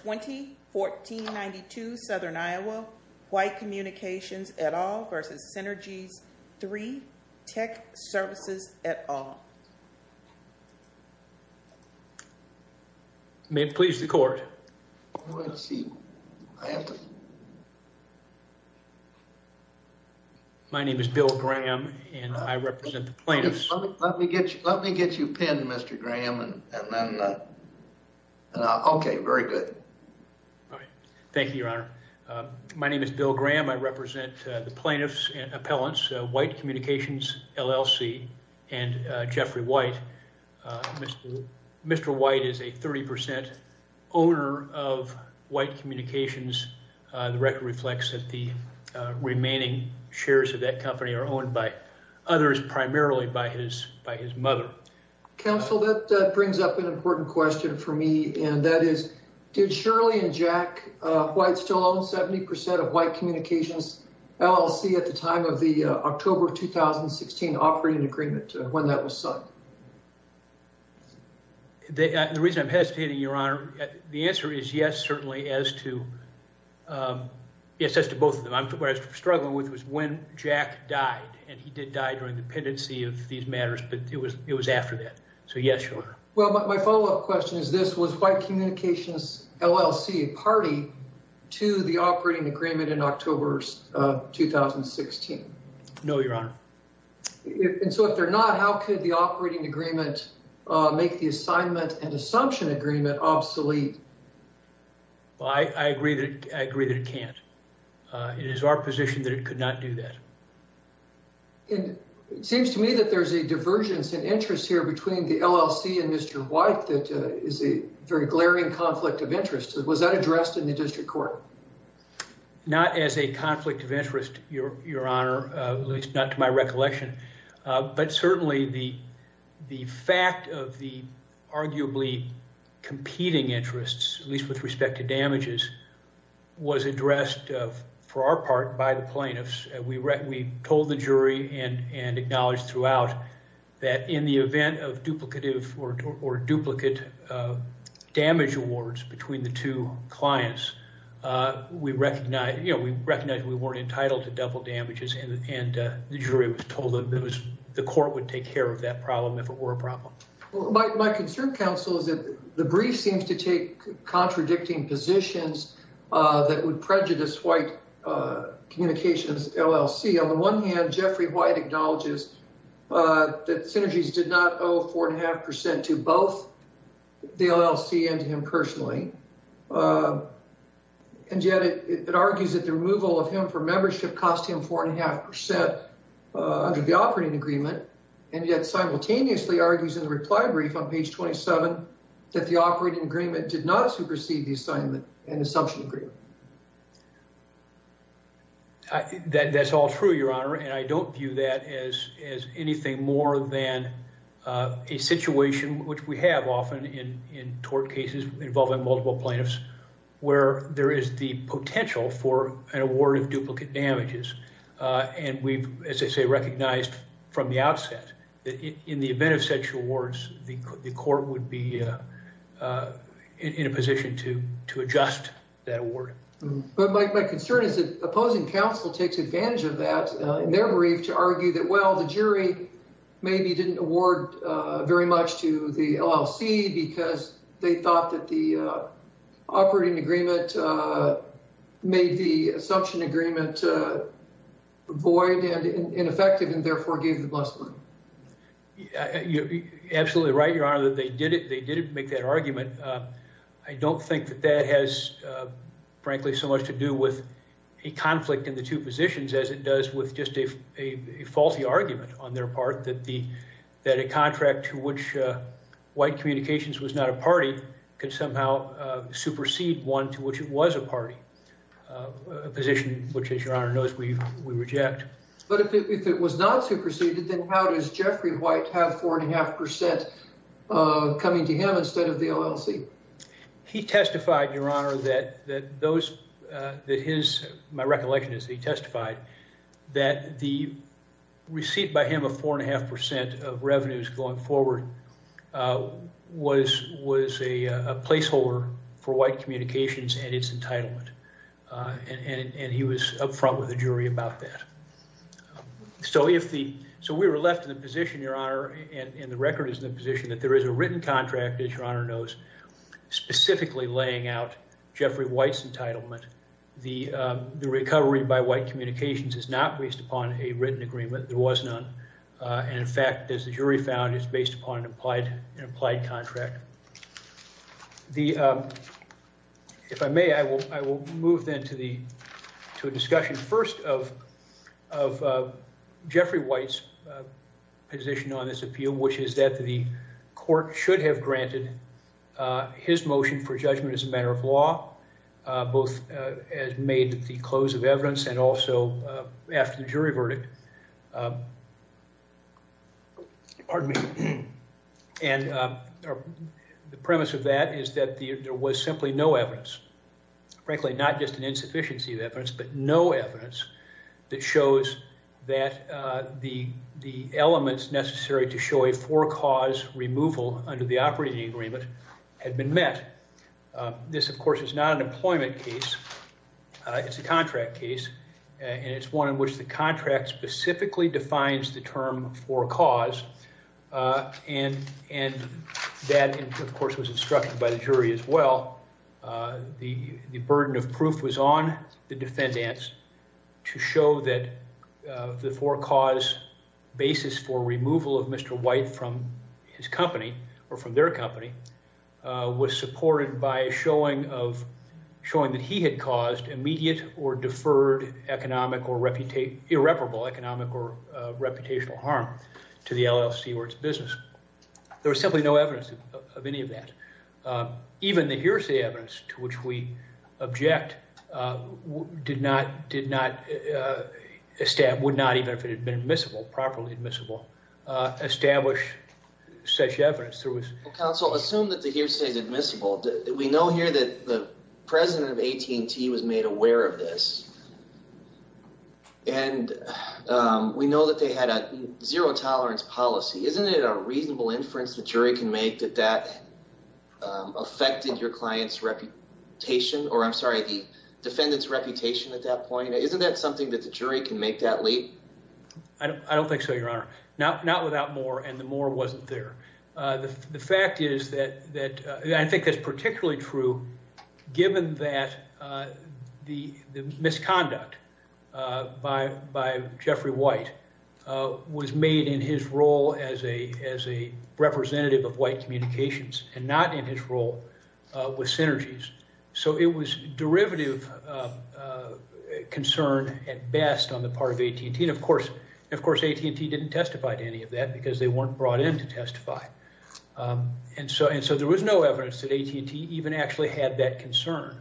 2014-92 Southern Iowa White Communications et al. v. Synergies3 Tec Services et al. May it please the court. My name is Bill Graham and I represent the plaintiffs. Let me get you pinned Mr. Graham. Okay, very good. Thank you, your honor. My name is Bill Graham. I represent the plaintiffs and appellants, White Communications LLC and Jeffrey White. Mr. White is a 30% owner of White Communications. The record reflects that the remaining shares of that company are owned by others, primarily by his mother. Counsel, that brings up an important question for me and that is, did Shirley and Jack White still own 70% of White Communications LLC at the time of the October 2016 operating agreement when that was signed? The reason I'm hesitating, your honor, the answer is yes, certainly, as to both of them. What I was struggling with was when Jack died and he did die during the pendency of these matters, but it was after that. So yes, your honor. Well, my follow-up question is this, was White Communications LLC a party to the operating agreement in October 2016? No, your honor. And so if they're not, how could the operating agreement make the assignment and assumption agreement obsolete? I agree that it can't. It is our position that it could not do that. It seems to me that there's a divergence in interest here between the LLC and Mr. White that is a very glaring conflict of interest. Was that addressed in the district court? Not as a conflict of interest, your honor, at least not to my recollection, but certainly the fact of the arguably competing interests, at least with respect to damages, was addressed for our part by the plaintiffs. We told the jury and acknowledged throughout that in the event of duplicative or duplicate damage awards between the two clients, we recognized we weren't entitled to double damages and the jury was told that the court would take care of that problem if it were a problem. My concern, counsel, is that the brief seems to take contradicting positions that would prejudice White Communications LLC. On the one hand, Jeffrey White acknowledges that Synergies did not owe four and a half percent to both the LLC and to him personally, and yet it argues that the removal of him for membership cost him four and a half percent under the operating agreement, and yet simultaneously argues in the reply brief on page 27 that the operating agreement did not supersede the assignment and assumption agreement. That's all true, your honor, and I don't view that as anything more than a situation, which we have often in tort cases involving multiple plaintiffs, where there is the potential for an award of duplicate damages, and we've, as I say, recognized from the outset that in the event of such awards, the court would be in a position to adjust that award. But my concern is that opposing counsel takes advantage of that in their brief to argue that, well, the jury maybe didn't award very much to the LLC because they thought that the operating agreement made the assumption agreement void and ineffective and therefore gave the assumption. You're absolutely right, your honor, that they did it. They didn't make that argument. I don't think that that has, frankly, so much to do with a conflict in the two positions as it does with just a faulty argument on their part that a contract to which White Communications was not a party could somehow supersede one to which it was a party, a position which, your honor, knows we reject. But if it was not superseded, then how does Jeffrey White have 4.5% coming to him instead of the LLC? He testified, your honor, that those, that his, my recollection is that he testified that the receipt by him of 4.5% of revenues going forward was a placeholder for White Communications and its entitlement. And he was up front with the jury about that. So if the, so we were left in the position, your honor, and the record is in the position that there is a written contract, as your honor knows, specifically laying out Jeffrey White's entitlement. The recovery by White Communications is not based upon a written agreement. There was none. And in fact, as the jury found, it's based upon an implied contract. The, if I may, I will move then to the, to a discussion first of Jeffrey White's position on this appeal, which is that the court should have granted his motion for judgment as a matter of law, both as made at the close of evidence and also after the jury verdict. Pardon me. And the premise of that is that there was simply no evidence, frankly, not just an insufficiency of evidence, but no evidence that shows that the elements necessary to show a four cause removal under the operating agreement had been met. This, of course, is not an employment case. It's a contract case. And it's one in which the contract specifically defines the term four cause. And, and that of course was instructed by the jury as well. The burden of proof was on the defendants to show that the four cause basis for removal of Mr. White from his company or from their company was supported by a showing of, showing that he had caused immediate or deferred economic or irreparable economic or reputational harm to the LLC or its business. There was simply no evidence of any of that. Even the hearsay evidence to which we object did not, did not, would not, even if it had been admissible, properly admissible, establish such evidence. Counsel, assume that the hearsay is admissible. We know here that the president of AT&T was made aware of this. And we know that they had a zero tolerance policy. Isn't it a reasonable inference the jury can make that that affected your client's reputation or I'm sorry, the defendant's reputation at that point? Isn't that something that the jury can make that leap? I don't, I don't think so, your honor. Not, not without Moore and the Moore wasn't there. The fact is that, that I think that's particularly true given that the, the misconduct by, by Jeffrey White was made in his role as a, as a representative of white communications and not in his role with synergies. So it was derivative concern at best on the part of AT&T. And of course, of course, AT&T didn't testify to any of that because they weren't brought in to testify. And so, and so there was no evidence that AT&T even actually had that concern.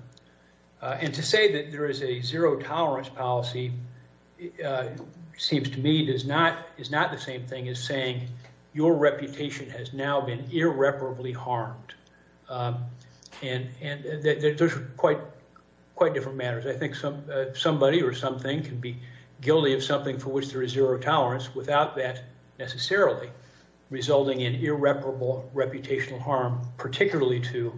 And to say that there is a zero tolerance policy seems to me does not, is not the same as saying your reputation has now been irreparably harmed. And, and there's quite, quite different matters. I think some, somebody or something can be guilty of something for which there is zero tolerance without that necessarily resulting in irreparable reputational harm, particularly to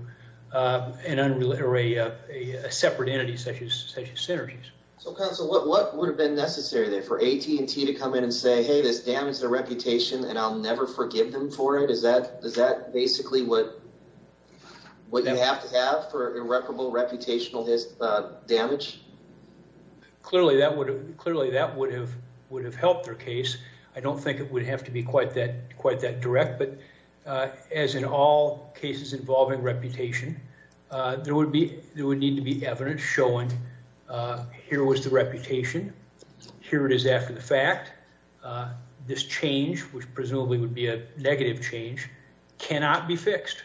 an unrelated or a separate entity such as synergies. So counsel, what, what would have been necessary there for AT&T to come in and say, hey, this damaged their reputation and I'll never forgive them for it? Is that, is that basically what, what you have to have for irreparable reputational damage? Clearly that would have, clearly that would have, would have helped their case. I don't think it would have to be quite that, quite that direct, but as in all cases involving reputation, there would be, there would need to be evidence showing here was the reputation, here it is after the fact. This change, which presumably would be a negative change, cannot be fixed.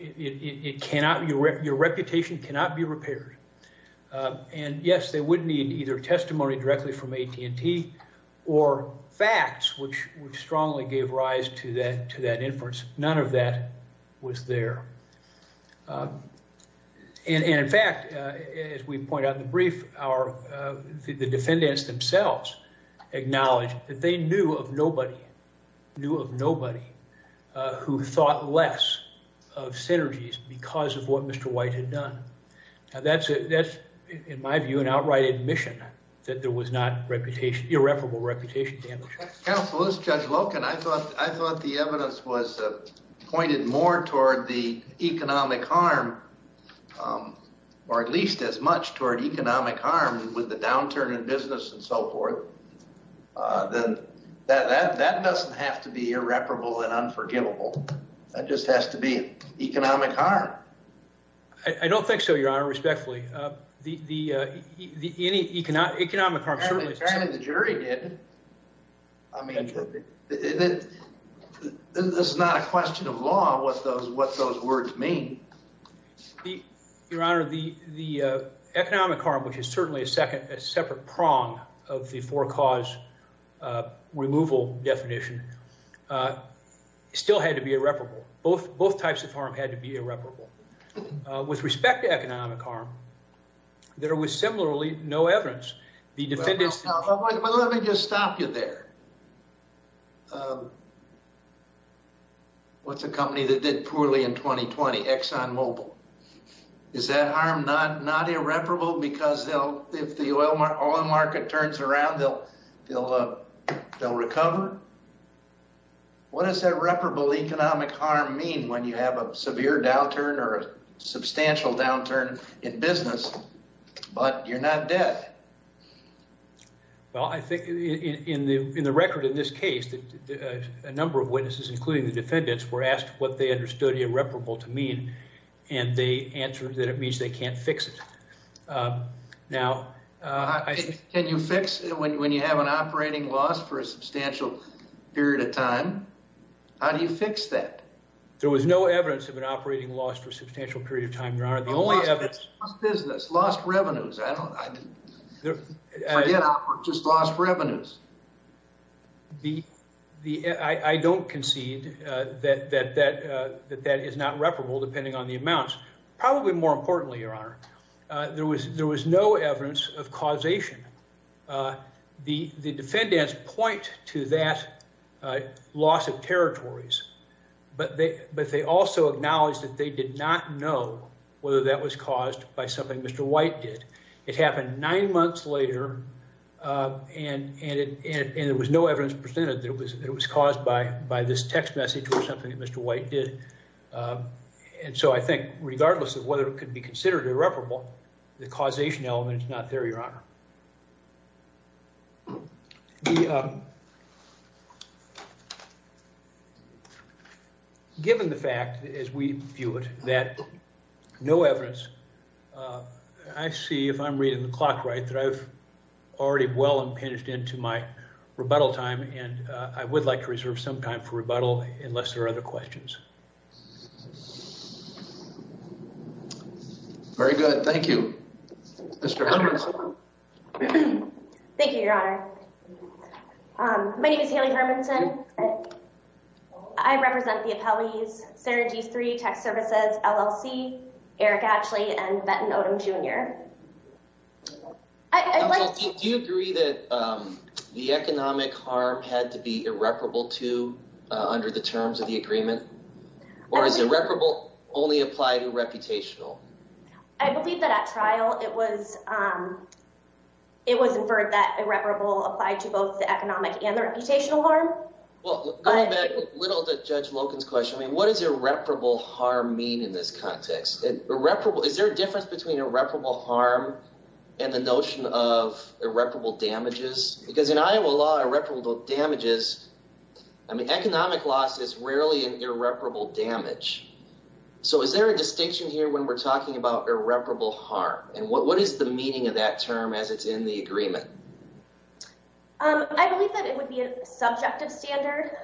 It cannot, your reputation cannot be repaired. And yes, they would need either testimony directly from AT&T or facts, which, which strongly gave rise to that, to that inference. None of that was there. And in fact, as we point out in the brief, our, the defendants themselves acknowledged that they knew of nobody, knew of nobody who thought less of synergies because of what Mr. White had done. Now that's a, that's, in my view, an outright admission that there was not reputation, irreparable reputation damage. Counsel, as Judge Loken, I thought, I thought the evidence was pointed more toward the economic harm or at least as much toward economic harm with the downturn in business and so forth. Then that, that, that doesn't have to be irreparable and unforgivable. That just has to be economic harm. I don't think so, your honor, respectfully. The, the, the, any economic, economic harm certainly. Apparently the jury did. I mean, this is not a question of law, what those, what those words mean. Your honor, the, the economic harm, which is certainly a second, a separate prong of the four cause removal definition still had to be irreparable. Both, both types of harm had to be irreparable. With respect to economic harm, there was similarly no evidence. The defendants... Let me just stop you there. What's a company that did poorly in 2020? ExxonMobil. Is that harm not, not irreparable because they'll, if the oil market turns around, they'll, they'll, they'll recover. What does irreparable economic harm mean when you have a severe downturn or a substantial downturn in business, but you're not dead? Well, I think in the, in the record in this case, a number of witnesses, including the defendants, were asked what they understood irreparable to mean. And they answered that it means they can't fix it. Now... Can you fix it when you have an operating loss for a substantial period of time? How do you fix that? There was no evidence of an business, lost revenues. I don't, I didn't just lost revenues. The, the, I, I don't concede that, that, that, that, that is not reparable depending on the amounts. Probably more importantly, Your Honor, there was, there was no evidence of causation. The, the defendants point to that loss of territories, but they, but they also acknowledged that they did not know whether that was caused by something Mr. White did. It happened nine months later. And, and it, and it was no evidence presented that it was, it was caused by, by this text message or something that Mr. White did. And so I think regardless of whether it could be considered irreparable, the causation element is not there, Your Honor. Given the fact, as we view it, that no evidence, I see if I'm reading the clock right, that I've already well impinged into my rebuttal time. And I would like to reserve some time for that. Thank you, Your Honor. My name is Haley Hermanson. I represent the appellees, Sarah G3, Tax Services, LLC, Eric Ashley, and Benton Odom Jr. I, I'd like to, do you agree that the economic harm had to be irreparable to, under the terms of the agreement, or is irreparable only apply to reputational? I believe that at trial it was, it was inferred that irreparable applied to both the economic and the reputational harm. Well, going back a little to Judge Loken's question, I mean, what does irreparable harm mean in this context? Irreparable, is there a difference between irreparable harm and the notion of irreparable damages? Because in Iowa law, irreparable damages, I mean, economic loss is rarely an irreparable damage. So is there a distinction here when we're talking about irreparable harm? And what, what is the meaning of that term as it's in the agreement? I believe that it would be a subjective standard,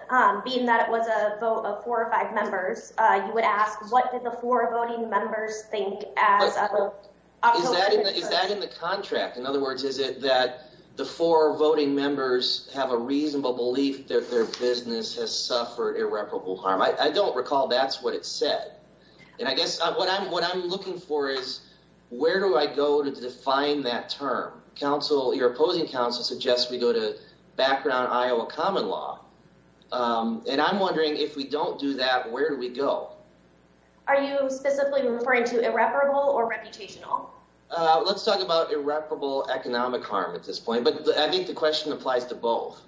being that it was a vote of four or five members. You would ask, what did the four voting members think? Is that in the contract? In other words, is it that the four voting members have a reasonable belief that their business has suffered irreparable harm? I don't recall that's what it said. And I guess what I'm, looking for is where do I go to define that term? Counsel, your opposing counsel suggests we go to background Iowa common law. And I'm wondering if we don't do that, where do we go? Are you specifically referring to irreparable or reputational? Let's talk about irreparable economic harm at this point. But I think the question applies to both.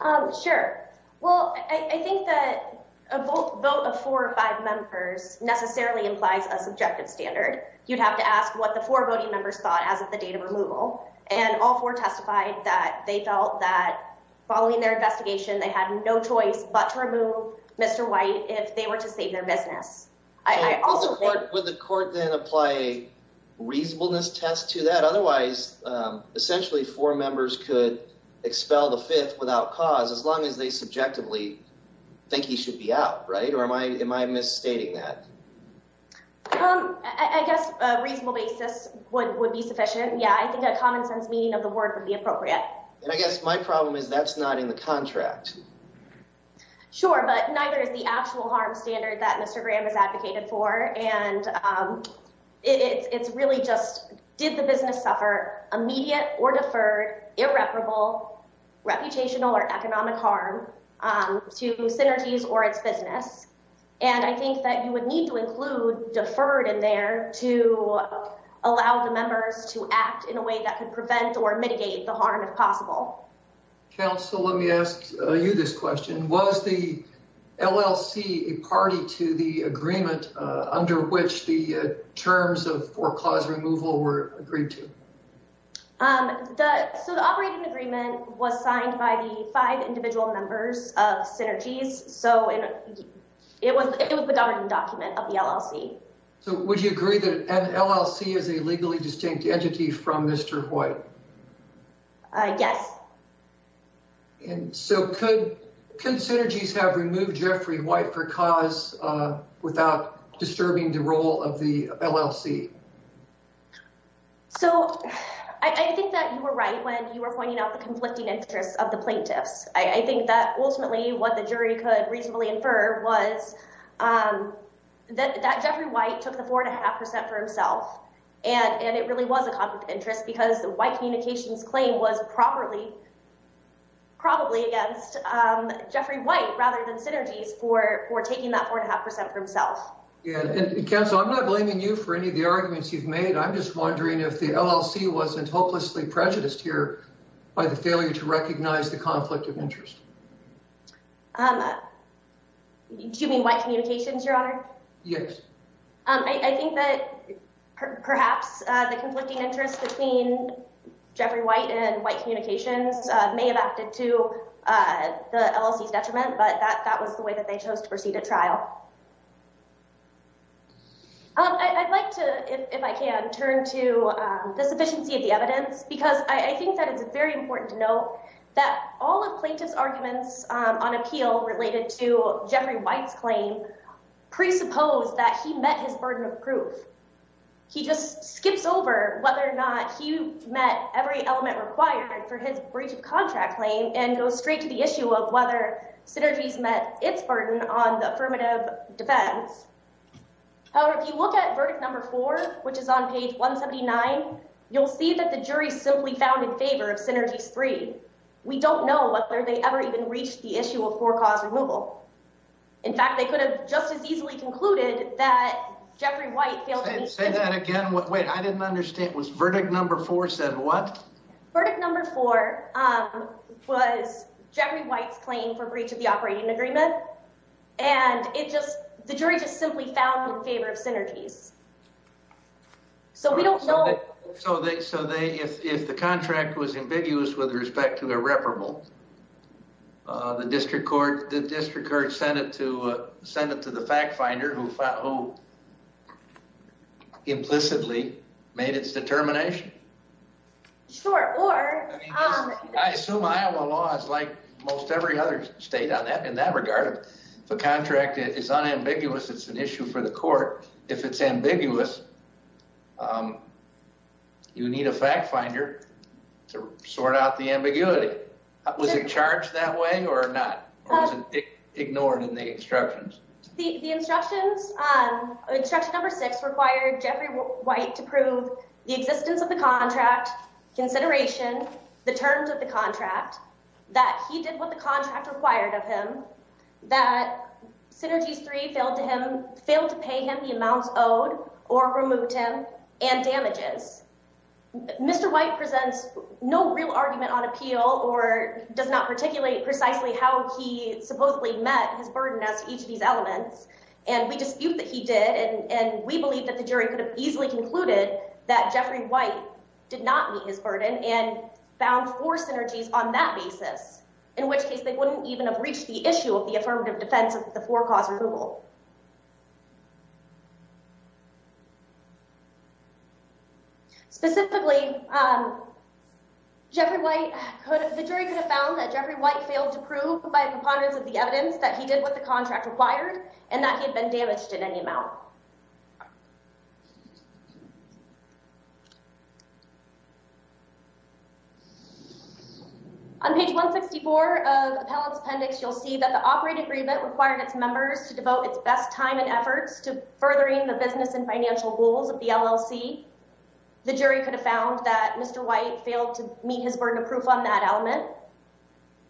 Um, sure. Well, I think that a vote of four or five members necessarily implies a subjective standard. You'd have to ask what the four voting members thought as of the date of removal. And all four testified that they felt that following their investigation, they had no choice but to remove Mr. White if they were to save their business. Would the court then apply a reasonableness test to that? Otherwise, essentially, four members could expel the fifth without cause as long as they subjectively think he should be out, right? Or am I am I misstating that? Um, I guess a reasonable basis would would be sufficient. Yeah, I think a common sense meaning of the word would be appropriate. And I guess my problem is that's not in the contract. Sure, but neither is the actual harm standard that Mr. Graham is advocated for. And it's really just did the business suffer immediate or deferred irreparable reputational or economic harm to Synergy's or its business? And I think that you would need to include deferred in there to allow the members to act in a way that could prevent or mitigate the harm if possible. Counsel, let me ask you this question. Was the LLC a party to the agreement under which the terms of foreclosure removal were agreed to? Um, so the operating agreement was signed by the five individual members of Synergy's. So it was it was the governing document of the LLC. So would you agree that an LLC is a legally distinct entity from Mr. White? Yes. And so could Synergy's have removed Jeffrey White for cause without disturbing the role of the LLC? So I think that you were right when you were pointing out the conflicting interests of the plaintiffs. I think that ultimately what the jury could reasonably infer was that Jeffrey White took the four and a half percent for himself. And it really was a conflict of interest because the White communications claim was probably probably against Jeffrey White rather than Synergy's for taking that four and a half percent for himself. And Counsel, I'm not blaming you for any of the arguments you've made. I'm just wondering if the LLC wasn't hopelessly prejudiced here by the failure to recognize the conflict of interest. Do you mean White Communications, Your Honor? Yes. I think that perhaps the conflicting interest between Jeffrey White and White Communications may have acted to the LLC's detriment, but that was the way that they chose to proceed at trial. I'd like to, if I can, turn to the sufficiency of the evidence because I think that it's very important to note that all of plaintiff's arguments on appeal related to Jeffrey White's claim presuppose that he met his burden of proof. He just skips over whether or not he met every element required for his breach of contract claim and goes straight to the issue of whether Synergy's met its burden on the affirmative defense. However, if you look at verdict number four, which is on page 179, you'll see that the jury simply found in favor of Synergy's three. We don't know whether they ever even reached the issue of four cause removal. In fact, they could have just as easily concluded that Jeffrey White failed. Say that again. Wait, I didn't understand. Was verdict number four said what? Verdict number four was Jeffrey White's claim for breach of the operating agreement and it just, the jury just simply found in favor of Synergy's. So we don't know. So they, so they, if, if the contract was ambiguous with respect to irreparable, the district court, the district court sent it to, sent it to the fact finder who implicitly made its determination. Sure. I assume Iowa law is like most every other state on that, in that regard. If a contract is unambiguous, it's an issue for the court. If it's ambiguous, you need a fact finder to sort out the ambiguity. Was it charged that way or not? Ignored in the instructions. The instructions, instruction number six required Jeffrey White to prove the existence of the contract consideration, the terms of the contract, that he did what the contract required of him, that Synergy's three failed to him, failed to pay him the amounts owed or removed him and damages. Mr. White presents no real argument on appeal or does not particulate precisely how he supposedly met his burden as each of these elements. And we dispute that he did. And we believe that the jury could have easily concluded that Jeffrey White did not meet his burden and found four synergies on that basis, in which case they wouldn't even have reached the issue of the affirmative defense of the four cause removal. Specifically, Jeffrey White, the jury could have found that Jeffrey White failed to prove by preponderance of the evidence that he did what the contract required and that he had been damaged in any amount. On page 164 of Appellate's Appendix, you'll see that the operating agreement required its members to devote its best time and efforts to furthering the business and financial rules of the LLC. The jury could have found that Mr. White failed to meet his burden of proof on that element.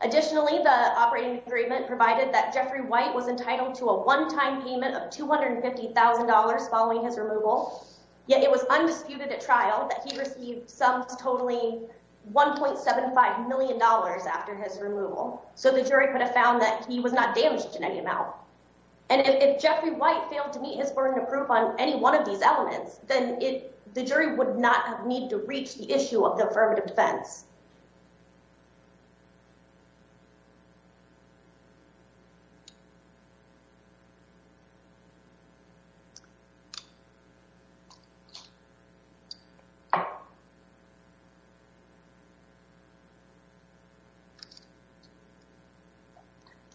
Additionally, the operating agreement provided that Jeffrey White was entitled to a one-time payment of $250,000 following his removal, yet it was undisputed at trial that he received sums totaling $1.75 million after his removal. So the jury could have found that he was not damaged in any amount. And if Jeffrey White failed to meet his burden of proof on any one of these elements, then the jury would not have needed to reach the issue of the affirmative defense.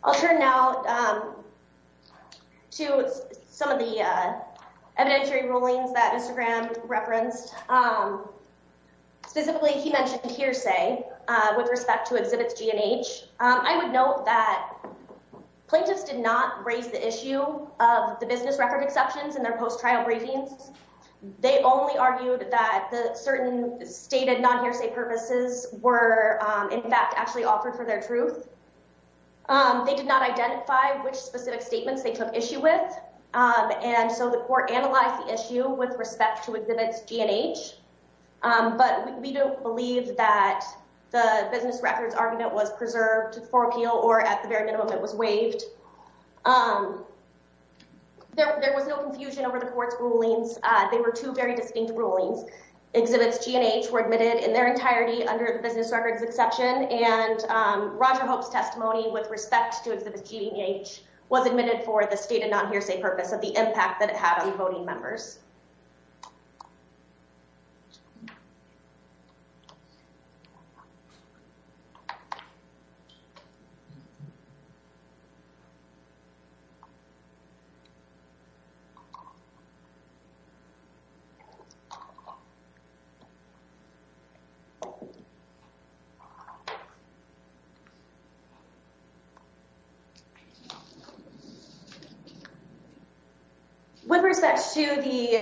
I'll turn now to some of the evidentiary rulings that Mr. Graham referenced. Specifically, he mentioned hearsay with respect to exhibits G and H. I would note that plaintiffs did not raise the issue of the business record exceptions in their post-trial briefings. They only argued that the certain stated non-hearsay purposes were, in fact, actually offered for their truth. They did not identify which specific statements they took issue with, and so the court analyzed the issue with respect to exhibits G and H. But we don't believe that the business records argument was preserved for appeal or at the very minimum it was waived. There was no confusion over the court's rulings. They were two very distinct rulings. Exhibits G and H were admitted in their entirety under the business records exception, and Roger Hope's testimony with respect to exhibits G and H was admitted for the stated non-hearsay purpose of the impact that it had on voting members. With respect to the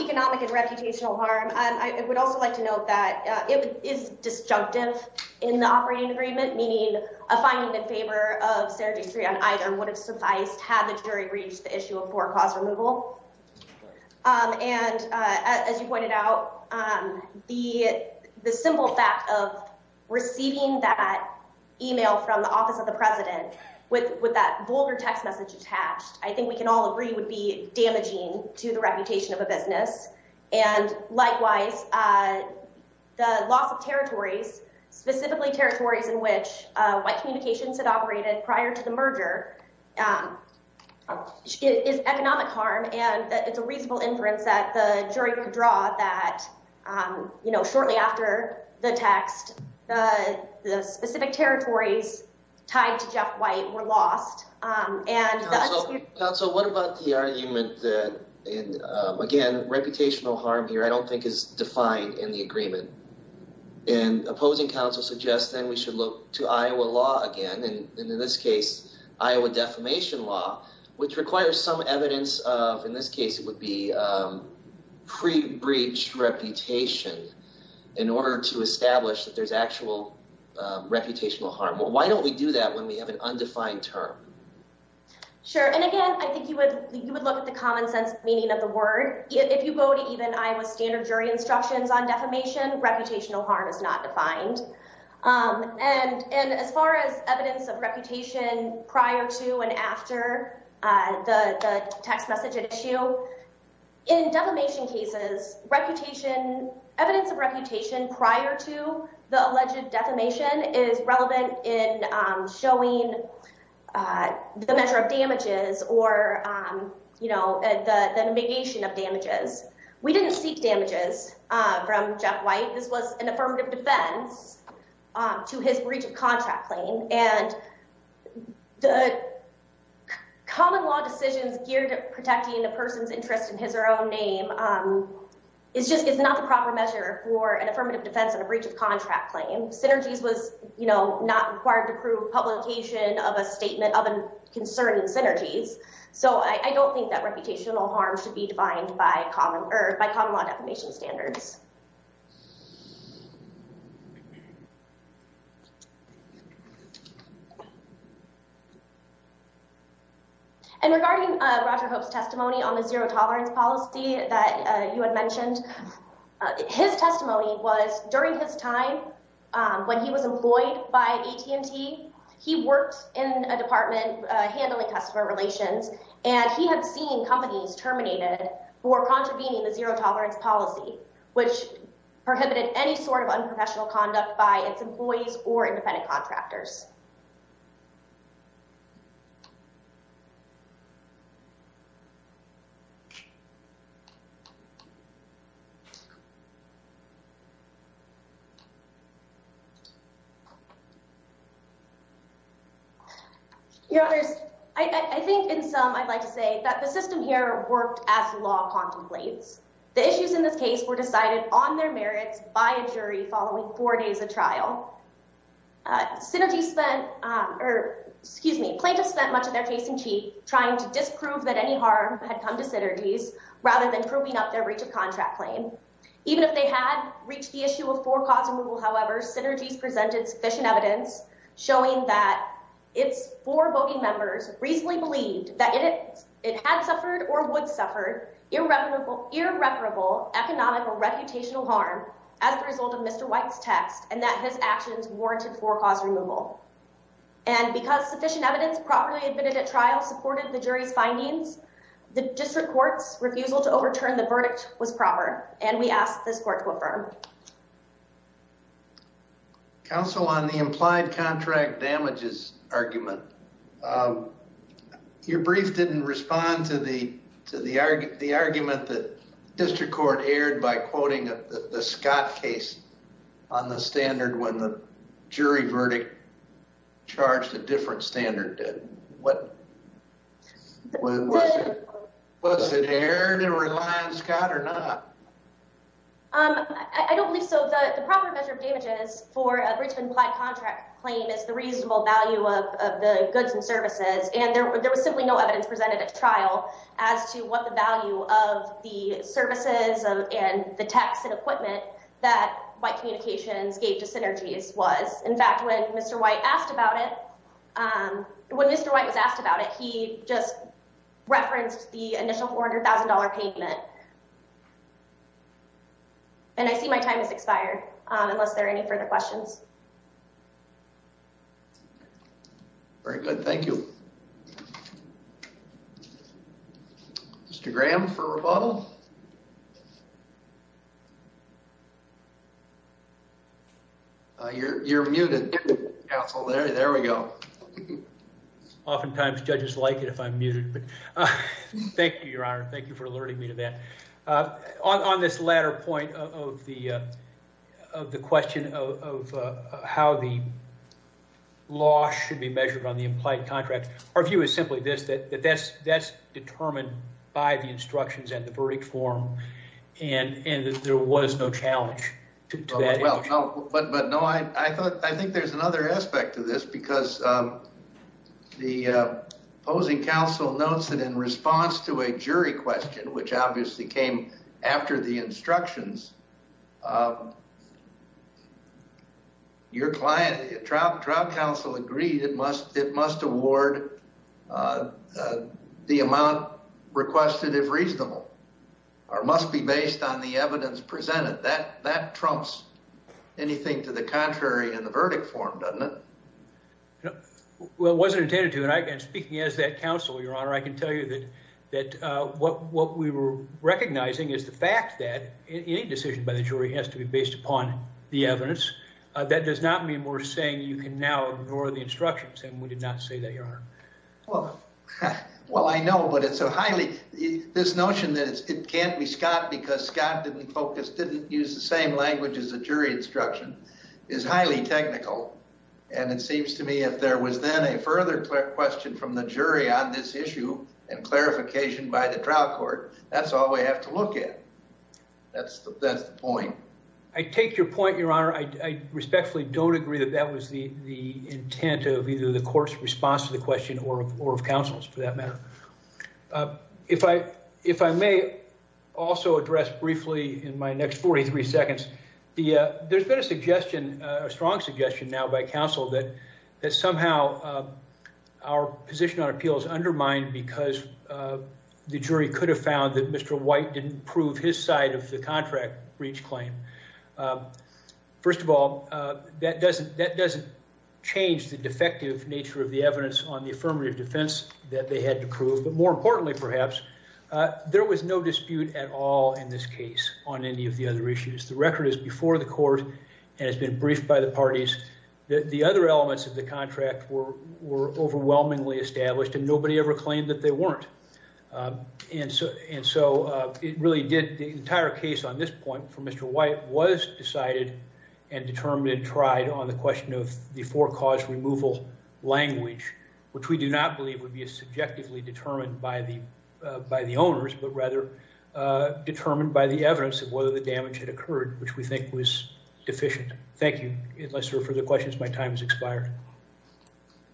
economic and reputational harm, I would also like to note that it is disjunctive in the operating agreement, meaning a finding in favor of serendipity on either would have sufficed had the jury reached the issue of poor cause removal. And as you pointed out, the simple fact of receiving that email from the office of the president with that vulgar text message attached, I think we can all agree would be damaging to the reputation of a business. And likewise, the loss of territories, specifically territories in which white communications had operated prior to the merger, is economic harm, and it's a reasonable inference that the jury could draw that, you know, shortly after the text, the specific territories tied to Jeff White were lost. Council, what about the argument that, again, reputational harm here, I don't think is defined in the agreement. And opposing counsel suggests that we should look to Iowa law again, and in this case, Iowa defamation law, which requires some evidence of, in this case, it would be pre-breach reputation in order to establish that there's actual reputational harm. Why don't we do that when we have an undefined term? Sure, and again, I think you would look at the common sense meaning of the word. If you go to even Iowa standard jury instructions on defamation, reputational harm is not defined. And as far as evidence of reputation prior to and after the text message at issue, in defamation cases, reputation, evidence of reputation prior to the alleged defamation is relevant in showing the measure of damages or, you know, the negation of damages. We didn't seek damages from Jeff White. This was an affirmative defense to his breach of contract claim. And the common law decisions geared to protecting a person's interest in his or her own name is just, it's not the proper measure for an affirmative defense on a breach of contract claim. Synergies was, you know, not required to prove publication of a statement concerning synergies. So I don't think that reputational harm should be defined by common or by common law defamation standards. And regarding Roger Hope's testimony on the zero tolerance policy that you had mentioned, his testimony was during his time when he was handling customer relations and he had seen companies terminated for contravening the zero tolerance policy, which prohibited any sort of unprofessional conduct by its employees or I think in some, I'd like to say that the system here worked as the law contemplates. The issues in this case were decided on their merits by a jury following four days of trial. Synergies spent, or excuse me, plaintiffs spent much of their case in chief trying to disprove that any harm had come to synergies rather than proving up their breach of contract claim. Even if they had reached the issue of four cause removal, however, synergies presented sufficient evidence showing that its four voting members reasonably believed that it had suffered or would suffer irreparable economic or reputational harm as a result of Mr. White's text and that his actions warranted four cause removal. And because sufficient evidence properly admitted at trial supported the jury's findings, the district court's refusal to overturn the verdict was proper. And we ask this court to affirm. Counsel, on the implied contract damages argument, your brief didn't respond to the argument that district court aired by quoting the Scott case on the standard when the jury verdict charged a different standard. Was it aired to rely on Scott or not? Um, I don't believe so. The proper measure of damages for a breach of implied contract claim is the reasonable value of the goods and services, and there was simply no evidence presented at trial as to what the value of the services and the text and equipment that white communications gave to synergies was. In fact, when Mr. White asked about it, when Mr. White was asked about it, he just referenced the initial $400,000 payment. And I see my time has expired, unless there are any further questions. Very good. Thank you. Mr. Graham for rebuttal. You're muted, counsel. There we go. Oftentimes judges like it if I'm muted, but thank you, Your Honor. Thank you for alerting me to that. On this latter point of the question of how the law should be measured on the implied contract, our view is simply this, that that's determined by the instructions and the verdict form, and there was no challenge to that. Well, but no, I think there's another aspect to this because the opposing counsel notes that in came after the instructions, your client, trial counsel agreed it must award the amount requested if reasonable, or must be based on the evidence presented. That trumps anything to the contrary in the verdict form, doesn't it? Well, it wasn't intended to, and speaking as that counsel, I can tell you that what we were recognizing is the fact that any decision by the jury has to be based upon the evidence. That does not mean we're saying you can now ignore the instructions, and we did not say that, Your Honor. Well, I know, but this notion that it can't be Scott because Scott didn't focus, didn't use the same language as the jury instruction is highly technical. And it seems to me if there was then a further question from the jury on this issue and clarification by the trial court, that's all we have to look at. That's the point. I take your point, Your Honor. I respectfully don't agree that that was the intent of either the court's response to the question or of counsel's for that matter. If I may also address briefly in my next 43 seconds, there's been a suggestion, a strong suggestion now by counsel that somehow our position on appeals undermined because the jury could have found that Mr. White didn't prove his side of the contract breach claim. First of all, that doesn't change the defective nature of the evidence on the affirmative defense that they had to prove, but more importantly perhaps, there was no dispute at all in this case on any of the other issues. The record is before the court and has been briefed by the parties that the other elements of the contract were overwhelmingly established and nobody ever claimed that they weren't. And so it really did, the entire case on this point for Mr. White was decided and determined, tried on the question of the four cause removal language, which we do not believe would be a by the owners, but rather determined by the evidence of whether the damage had occurred, which we think was deficient. Thank you. Unless there are further questions, my time has expired.